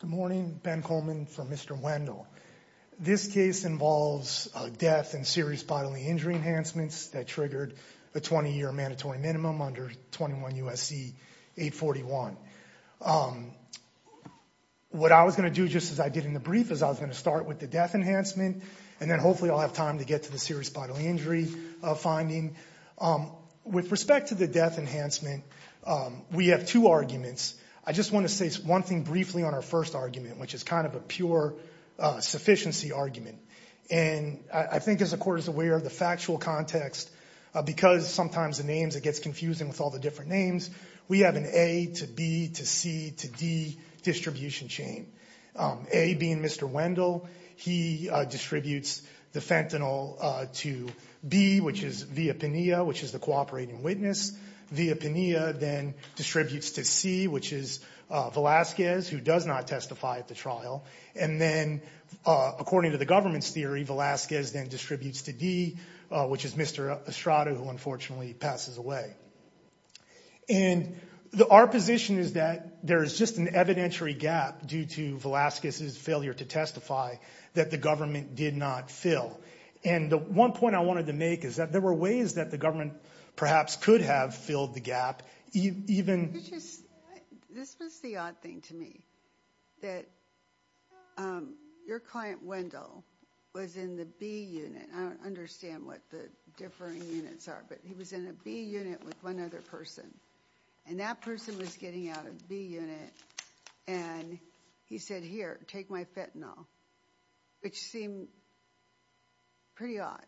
Good morning, Ben Coleman for Mr. Wendel. This case involves death and serious bodily injury enhancements that triggered a 20-year mandatory minimum under 21 U.S.C. 841. What I was going to do, just as I did in the brief, is I was going to start with the death enhancement and then hopefully I'll have time to get to the serious bodily injury finding. With respect to the death enhancement, we have two arguments. I just want to say one thing briefly on our first argument, which is kind of a pure sufficiency argument. And I think as the Court is aware of the factual context, because sometimes the names, it gets confusing with all the different names, we have an A to B to C to D distribution chain. A being Mr. Wendel, he distributes the fentanyl to B, which is Villapinea, which is the cooperating witness. Villapinea then distributes to C, which is Velazquez, who does not testify at the trial. And then according to the government's theory, Velazquez then distributes to D, which is Mr. Estrada, who unfortunately passes away. And our position is that there is just an evidentiary gap due to Velazquez's failure to testify that the government did not fill. And the one point I wanted to make is that there were ways that the government perhaps could have filled the gap, even... This was the odd thing to me, that your client Wendel was in the B unit. I don't understand what the differing units are, but he was in a B unit with one other person. And that person was getting out of B unit. And he said, here, take my fentanyl, which seemed pretty odd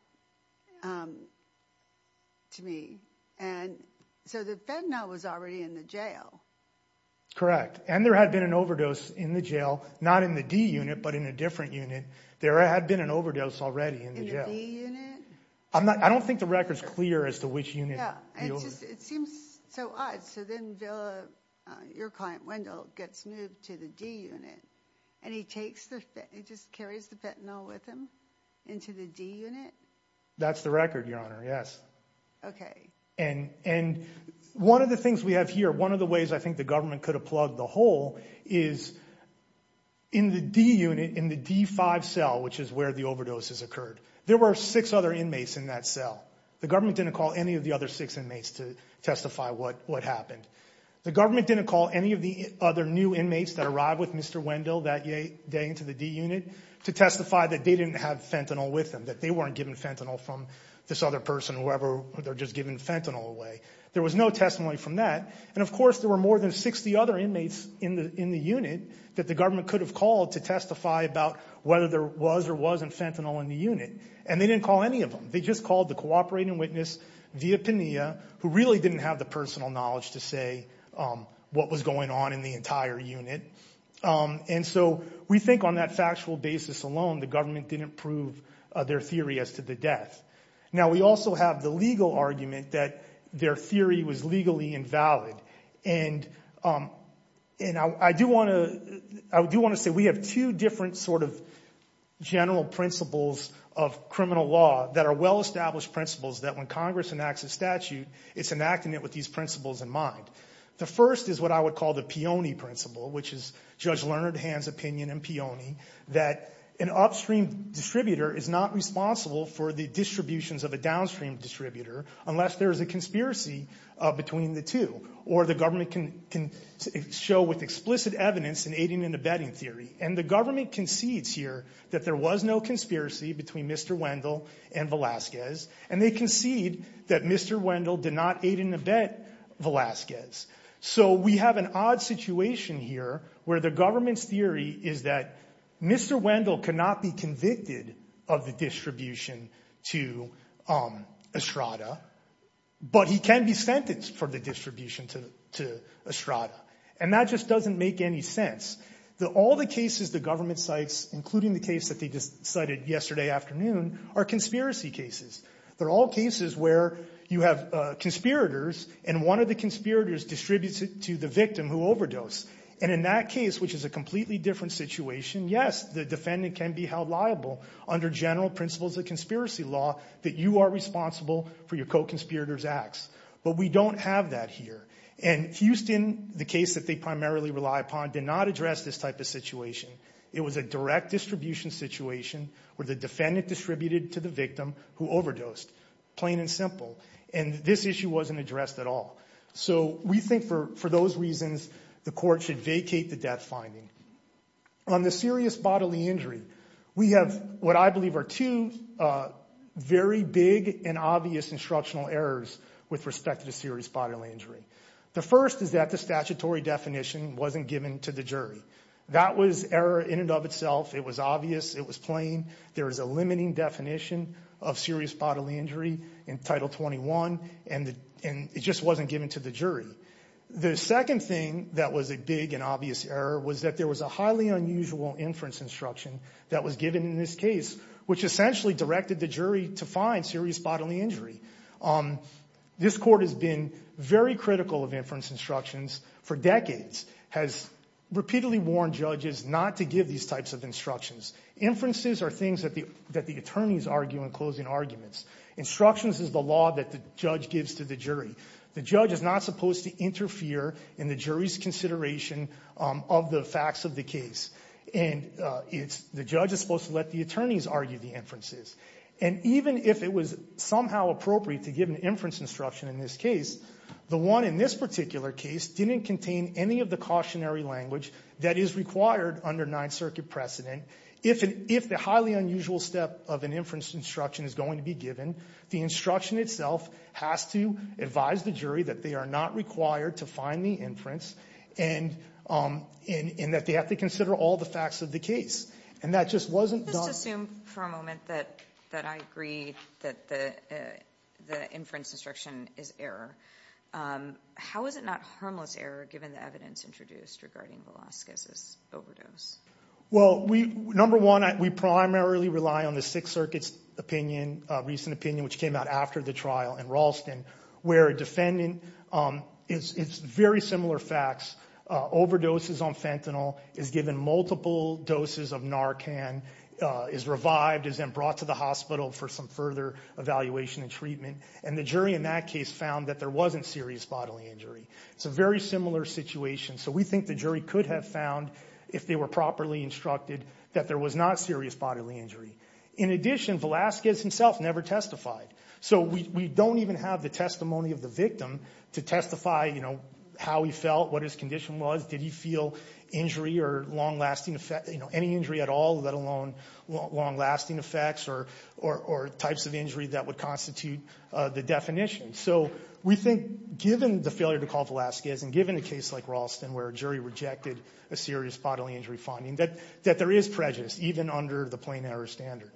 to me. And so the fentanyl was already in the jail. Correct. And there had been an overdose in the jail, not in the D unit, but in a different unit. There had been an overdose already in the jail. I don't think the record's clear as to which unit. It seems so odd. So then your client Wendel gets moved to the D unit, and he just carries the fentanyl with him into the D unit? That's the record, Your Honor, yes. Okay. And one of the things we have here, one of the ways I think the government could have plugged the hole is in the D unit, in the D5 cell, which is where the overdose has occurred, there were six other inmates in that cell. The government didn't call any of the other six inmates to testify what happened. The government didn't call any of the other new inmates that arrived with Mr. Wendel that day into the D unit to testify that they didn't have fentanyl with them, that they weren't giving fentanyl from this other person, whoever, they're just giving fentanyl away. There was no testimony from that. And of course, there were more than 60 other inmates in the unit that the government could have called to testify about whether there was or wasn't fentanyl in the unit. And they didn't call any of them. They just called the cooperating witness, Via Pena, who really didn't have the personal knowledge to say what was going on in the entire unit. And so we think on that factual basis alone, the government didn't prove their theory as to the death. Now we also have the legal argument that their theory was legally invalid. And I do want to say we have two different sort of general principles of criminal law that are well-established principles that when Congress enacts a statute, it's enacting it with these principles in mind. The first is what I would call the Peony Principle, which is Judge Leonard Hand's opinion in Peony, that an upstream distributor is not responsible for the distributions of a downstream distributor unless there is a conspiracy between the two. Or the government can show with explicit evidence in aiding and abetting theory. And the government concedes here that there was no conspiracy between Mr. Wendell and Velazquez. And they concede that Mr. Wendell did not aid and abet Velazquez. So we have an odd situation here where the government's theory is that Mr. Wendell cannot be convicted of the distribution to Estrada, but he can be sentenced for the distribution to Estrada. And that just doesn't make any sense. All the cases the government cites, including the case that they cited yesterday afternoon, are conspiracy cases. They're all cases where you have conspirators and one of the conspirators distributes it to the victim who overdosed. And in that case, which is a completely different situation, yes, the defendant can be held liable under general principles of conspiracy law that you are responsible for your co-conspirator's acts. But we don't have that here. And Houston, the case that they primarily rely upon, did not address this type of situation. It was a direct distribution situation where the defendant distributed to the victim who overdosed. Plain and simple. And this issue wasn't addressed at all. So we think for those reasons the court should vacate the death finding. On the serious bodily injury, we have what I call two very big and obvious instructional errors with respect to serious bodily injury. The first is that the statutory definition wasn't given to the jury. That was error in and of itself. It was obvious. It was plain. There is a limiting definition of serious bodily injury in Title 21, and it just wasn't given to the jury. The second thing that was a big and obvious error was that there was a highly unusual inference instruction that was given in this case, which essentially directed the jury to find serious bodily injury. This court has been very critical of inference instructions for decades, has repeatedly warned judges not to give these types of instructions. Inferences are things that the attorneys argue in closing arguments. Instructions is the law that the judge gives to the jury. The judge is not supposed to interfere in the jury's consideration of the facts of the case. And it's the judge is supposed to let the attorneys argue the inferences. And even if it was somehow appropriate to give an inference instruction in this case, the one in this particular case didn't contain any of the cautionary language that is required under Ninth Circuit precedent. If the highly unusual step of an inference instruction is going to be given, the instruction itself has to advise the jury that they are not supposed to find the inference and that they have to consider all the facts of the case. And that just wasn't done. Let's just assume for a moment that I agree that the inference instruction is error. How is it not harmless error given the evidence introduced regarding Velazquez's overdose? Well, number one, we primarily rely on the Sixth Circuit's opinion, recent opinion, which came out after the trial in Ralston, where a defendant, it's very similar facts, overdoses on fentanyl, is given multiple doses of Narcan, is revived, is then brought to the hospital for some further evaluation and treatment. And the jury in that case found that there wasn't serious bodily injury. It's a very similar situation. So we think the jury could have found, if they were properly instructed, that there was not serious bodily injury. In addition, Velazquez himself never testified. So we don't even have the testimony of the victim to testify, you know, how he felt, what his condition was, did he feel injury or long-lasting effect, you know, any injury at all, let alone long-lasting effects or types of injury that would constitute the definition. So we think given the failure to call Velazquez and given a case like Ralston where a jury rejected a serious bodily injury finding, that there is prejudice, even under the plain error standard.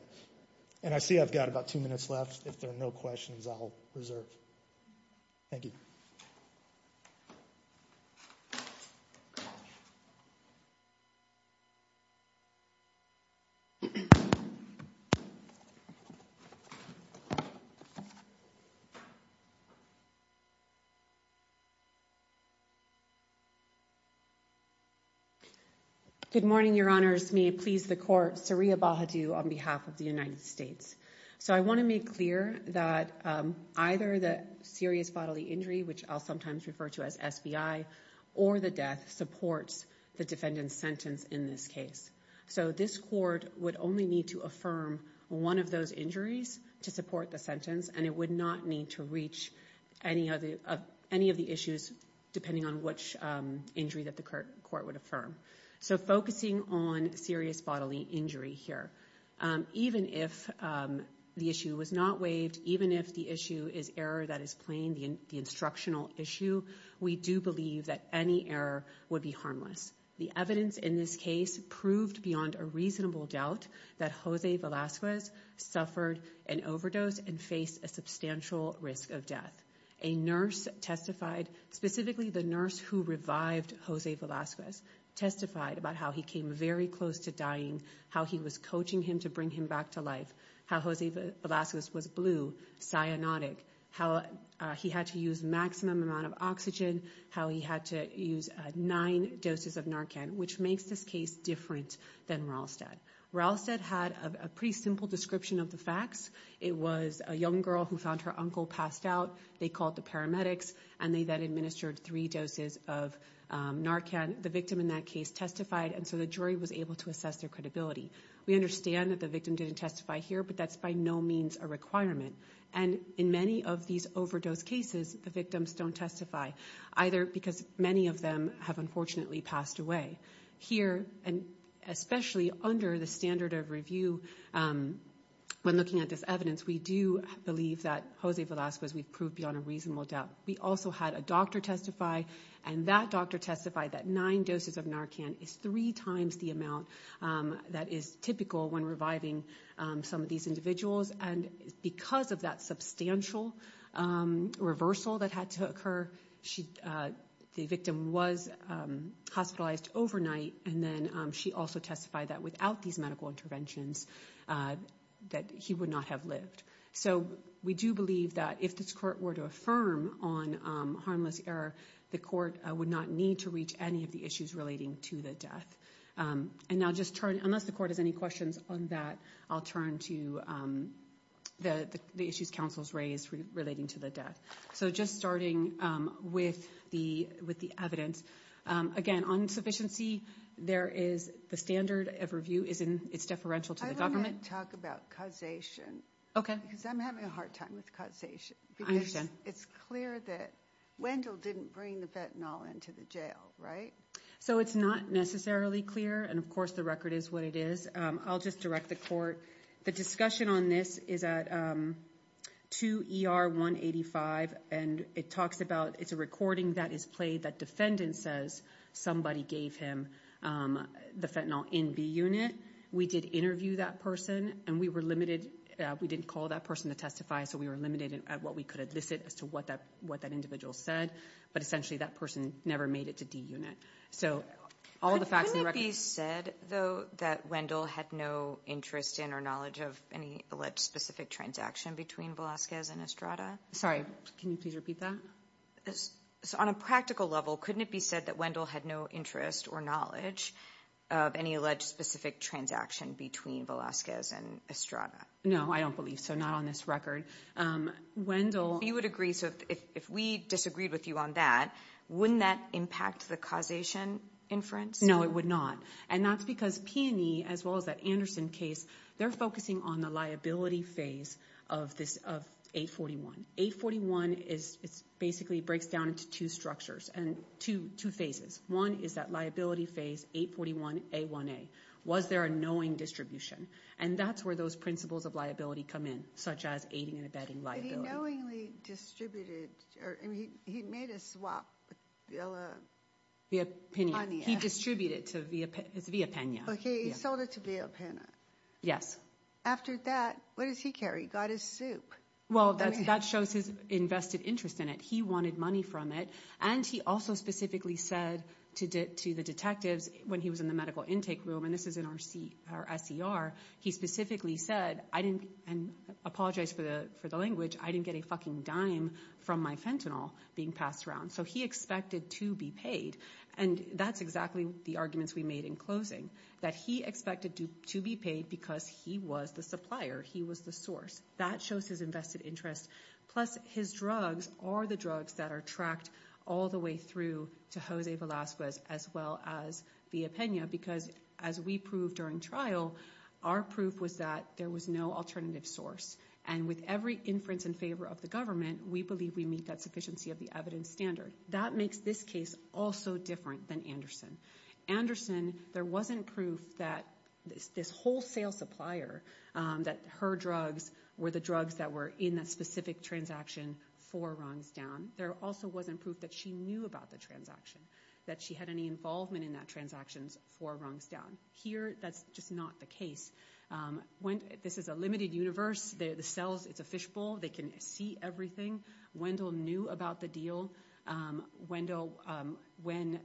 And I see I've got about two minutes left. If there are no questions, I'll reserve. Thank you. Good morning, Your Honors. May it please the Court. Saria Bahadu on behalf of the United as SBI or the death supports the defendant's sentence in this case. So this Court would only need to affirm one of those injuries to support the sentence and it would not need to reach any of the issues depending on which injury that the Court would affirm. So focusing on serious bodily injury here, even if the issue was not waived, even if the issue is error that is plain, the instructional issue, we do believe that any error would be harmless. The evidence in this case proved beyond a reasonable doubt that Jose Velazquez suffered an overdose and faced a substantial risk of death. A nurse testified, specifically the nurse who revived Jose Velazquez, testified about how he came very close to dying, how he was coaching him to bring him back to life, how Jose Velazquez was blue, cyanotic, how he had to use maximum amount of oxygen, how he had to use nine doses of Narcan, which makes this case different than Rallstad. Rallstad had a pretty simple description of the facts. It was a young girl who found her uncle passed out. They called the paramedics and they then administered three doses of Narcan. The victim in that case testified and so the jury was able to assess their credibility. We understand that the victim didn't testify here, but that's by no means a requirement. And in many of these overdose cases, the victims don't testify, either because many of them have unfortunately passed away. Here, and especially under the standard of review, when looking at this evidence, we do believe that Jose Velazquez, we proved beyond a reasonable doubt. We also had a doctor testify and that doctor testified that nine doses of Narcan is three times the amount that is typical when reviving some of these individuals and because of that substantial reversal that had to occur, the victim was hospitalized overnight and then she also testified that without these medical interventions, that he would not have lived. So we do believe that if this court were to affirm on harmless abuse error, the court would not need to reach any of the issues relating to the death. And now just turn, unless the court has any questions on that, I'll turn to the issues counsels raised relating to the death. So just starting with the evidence, again, on sufficiency, there is the standard of review is in, it's deferential to the government. I want to talk about causation. Okay. Because I'm having a hard time with causation. I understand. It's clear that Wendell didn't bring the fentanyl into the jail, right? So it's not necessarily clear. And of course the record is what it is. I'll just direct the court. The discussion on this is at 2 ER 185 and it talks about, it's a recording that is played that defendant says somebody gave him the fentanyl in B unit. We did interview that person and we were limited. We didn't call that person to testify. So we were limited at what we could elicit as to what that, what that individual said. But essentially that person never made it to D unit. So all the facts in the record. Couldn't it be said though that Wendell had no interest in or knowledge of any alleged specific transaction between Velazquez and Estrada? Sorry, can you please repeat that? So on a practical level, couldn't it be said that Wendell had no interest or knowledge of any alleged specific transaction between Velazquez and Estrada? No, I don't believe so. Not on this record. Wendell. You would agree. So if we disagreed with you on that, wouldn't that impact the causation inference? No, it would not. And that's because Peony, as well as that Anderson case, they're focusing on the liability phase of this, of 841. 841 is it's basically breaks down into two structures and two phases. One is that liability phase 841A1A. Was there a knowing distribution? And that's where those principles of liability come in, such as aiding and abetting liability. But he knowingly distributed, or he made a swap with Villa. Via Peña. He distributed to, it's Via Peña. Okay. He sold it to Via Peña. Yes. After that, what does he carry? He got his soup. Well, that shows his invested interest in it. He wanted money from it. And he also specifically said to the detectives when he was in the medical intake room, and this is in our SCR, he specifically said, and I apologize for the language, I didn't get a fucking dime from my fentanyl being passed around. So he expected to be paid. And that's exactly the arguments we made in closing, that he expected to be paid because he was the supplier. He was the source. That shows his invested interest. Plus his drugs are the drugs that are tracked all the way through to Jose Velasquez, as well as Via Peña. Because as we proved during trial, our proof was that there was no alternative source. And with every inference in favor of the government, we believe we meet that sufficiency of the evidence standard. That makes this case also different than Anderson. Anderson, there wasn't proof that this wholesale supplier, that her drugs were the drugs that were in that specific transaction four rungs down. There also wasn't proof that she knew about the transaction, that she had any involvement in that transactions four rungs down. Here, that's just not the case. This is a limited universe. The cells, it's a fishbowl. They can see everything. Wendell knew about the deal. When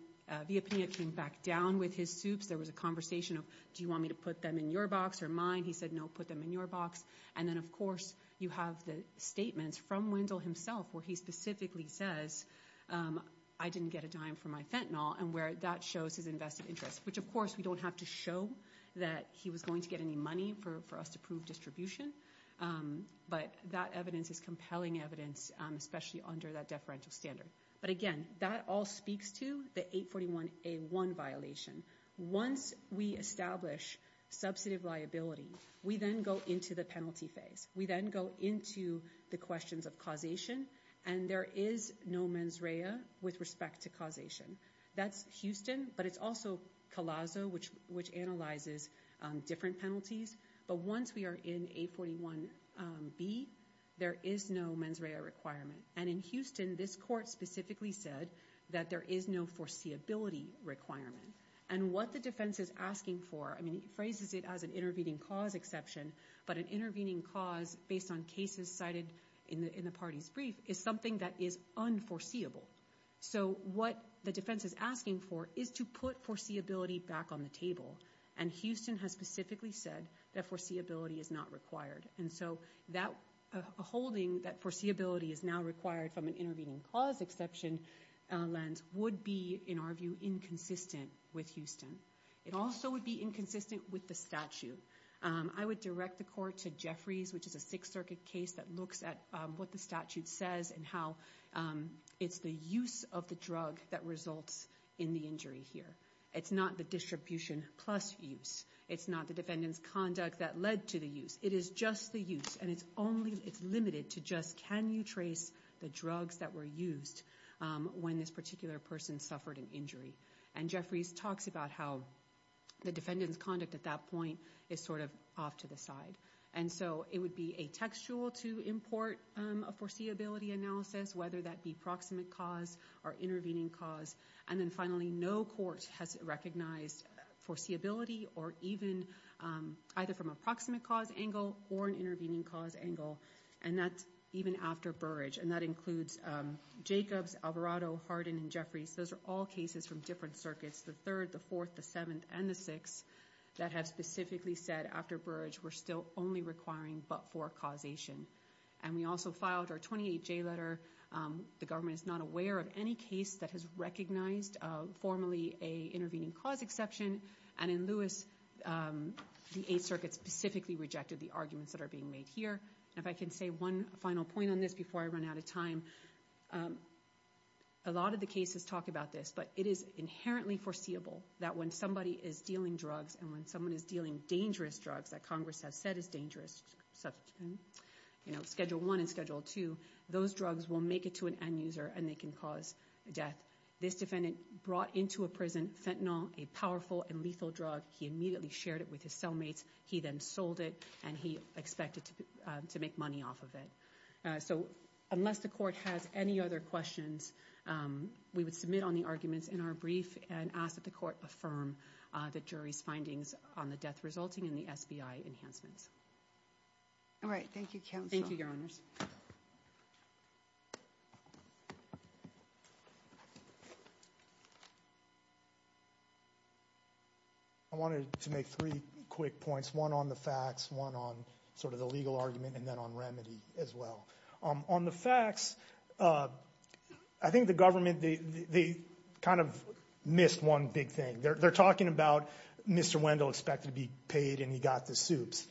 Via Peña came back down with his soups, there was a conversation of, do you want me to put them in your box or mine? He said, no, put them in your box. And then of course, you have the statements from Wendell himself, where he specifically says, I didn't get a dime for my fentanyl. And where that shows his invested interest, which of course we don't have to show that he was going to get any money for us to prove distribution. But that evidence is compelling evidence, especially under that deferential standard. But again, that all speaks to the 841A1 violation. Once we establish substantive liability, we then go into the penalty phase. We then go into the questions of causation. And there is no mens rea with respect to causation. That's Houston, but it's also Colaso, which analyzes different penalties. But once we are in 841B, there is no mens rea requirement. And in Houston, this court specifically said that there is no foreseeability requirement. And what the defense is asking for, I mean, it phrases it as an intervening cause exception, but an intervening cause based on cases cited in the party's brief is something that is unforeseeable. So what the defense is asking for is to put foreseeability back on the table. And Houston has specifically said that foreseeability is not required. And so that holding that foreseeability is now required from an intervening cause exception lens would be, in our view, inconsistent with Houston. It also would be inconsistent with the statute. I would direct the court to Jeffries, which is a Sixth Circuit case that looks at what the statute says and how it's the use of the drug that results in the injury here. It's not the distribution plus use. It's not the defendant's conduct that led to the use. It is just the use. And it's limited to just can you trace the drugs that were used when this particular person suffered an injury. And Jeffries talks about how the defendant's conduct at that point is sort of off to the side. And so it would be a textual to import a foreseeability analysis, whether that be proximate cause or intervening cause. And then finally, no court has recognized foreseeability or even either from a proximate cause angle or an intervening cause angle. And that's even after Burrage. And that includes Jacobs, Alvarado, Hardin, and Jeffries. Those are all cases from different circuits, the Third, the Fourth, the Seventh, and the Sixth, that have specifically said after Burrage, we're still only requiring but for causation. And we also filed our 28J letter. The government is not aware of any case that has recognized formally a intervening cause exception. And in Lewis, the Eighth Circuit specifically rejected the arguments that are being made here. If I can say one final point on this before I run out of time, a lot of the cases talk about this. But it is inherently foreseeable that when somebody is dealing drugs and when someone is dealing dangerous drugs that Congress has said is dangerous, you know, schedule one and schedule two, those drugs will make it to an end user and they can death. This defendant brought into a prison fentanyl, a powerful and lethal drug. He immediately shared it with his cellmates. He then sold it and he expected to make money off of it. So unless the court has any other questions, we would submit on the arguments in our brief and ask that the court affirm the jury's findings on the death resulting in the SBI enhancements. All right. Thank you, counsel. Thank you, your honors. I wanted to make three quick points, one on the facts, one on sort of the legal argument and then on remedy as well. On the facts, I think the government, they kind of missed one big thing. They're talking about Mr. Wendell expected to be paid and he got the soups.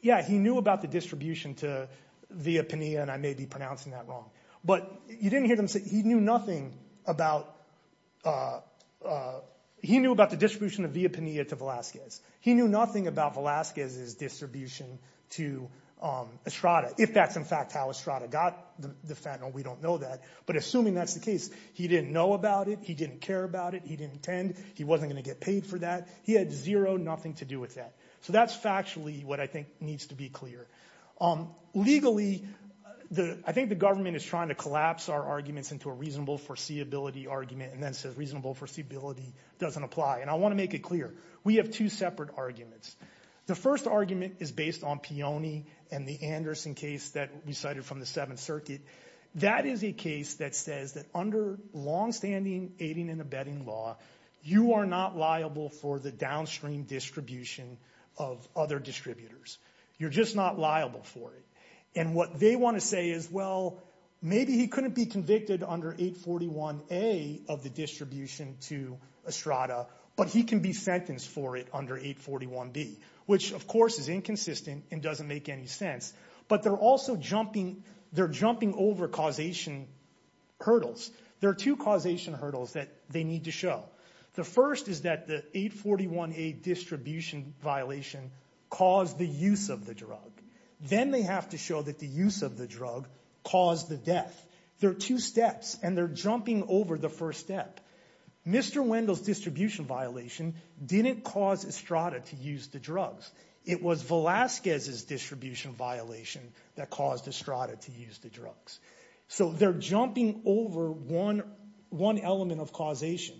Yeah, he knew about the distribution to Via Pena and I may be pronouncing that wrong. But you didn't hear them say he knew nothing about the distribution of Via Pena to Velazquez. He knew nothing about Velazquez's distribution to Estrada, if that's in fact how Estrada got the fentanyl. We don't know that. But assuming that's the case, he didn't know about it. He didn't care about it. He didn't he wasn't going to get paid for that. He had zero, nothing to do with that. So that's factually what I think needs to be clear. Legally, I think the government is trying to collapse our arguments into a reasonable foreseeability argument and then says reasonable foreseeability doesn't apply. And I want to make it clear, we have two separate arguments. The first argument is based on Peone and the Anderson case that we cited from the Seventh Circuit. That is a case that says that long-standing aiding and abetting law, you are not liable for the downstream distribution of other distributors. You're just not liable for it. And what they want to say is, well, maybe he couldn't be convicted under 841A of the distribution to Estrada, but he can be sentenced for it under 841B, which of course is inconsistent and doesn't make any sense. But they're also jumping, they're jumping over causation hurdles. There are two causation hurdles that they need to show. The first is that the 841A distribution violation caused the use of the drug. Then they have to show that the use of the drug caused the death. There are two steps and they're jumping over the first step. Mr. Wendell's distribution violation didn't cause Estrada to use the drugs. It was Velazquez's distribution violation that caused Estrada to use the drugs. So they're jumping over one element of causation.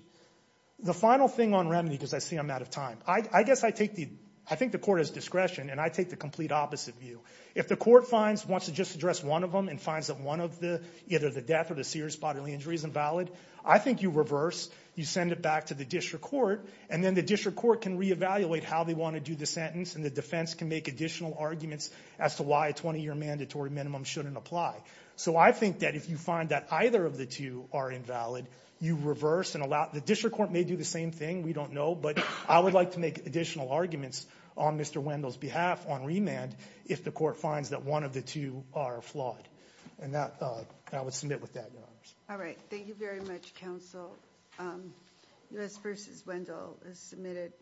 The final thing on remedy, because I see I'm out of time, I guess I take the, I think the court has discretion and I take the complete opposite view. If the court finds, wants to just address one of them and finds that one of the, either the death or the serious bodily injury is invalid, I think you reverse, you send it back to the district court and then the district court can reevaluate how they want to do the sentence and the defense can make additional arguments as to why a 20-year mandatory minimum shouldn't apply. So I think that if you find that either of the two are invalid, you reverse and allow, the district court may do the same thing, we don't know, but I would like to make additional arguments on Mr. Wendell's behalf on remand if the court finds that one of the two are flawed. And that, I would submit with that, your honors. All right, thank you very much, counsel. U.S. versus Wendell is submitted.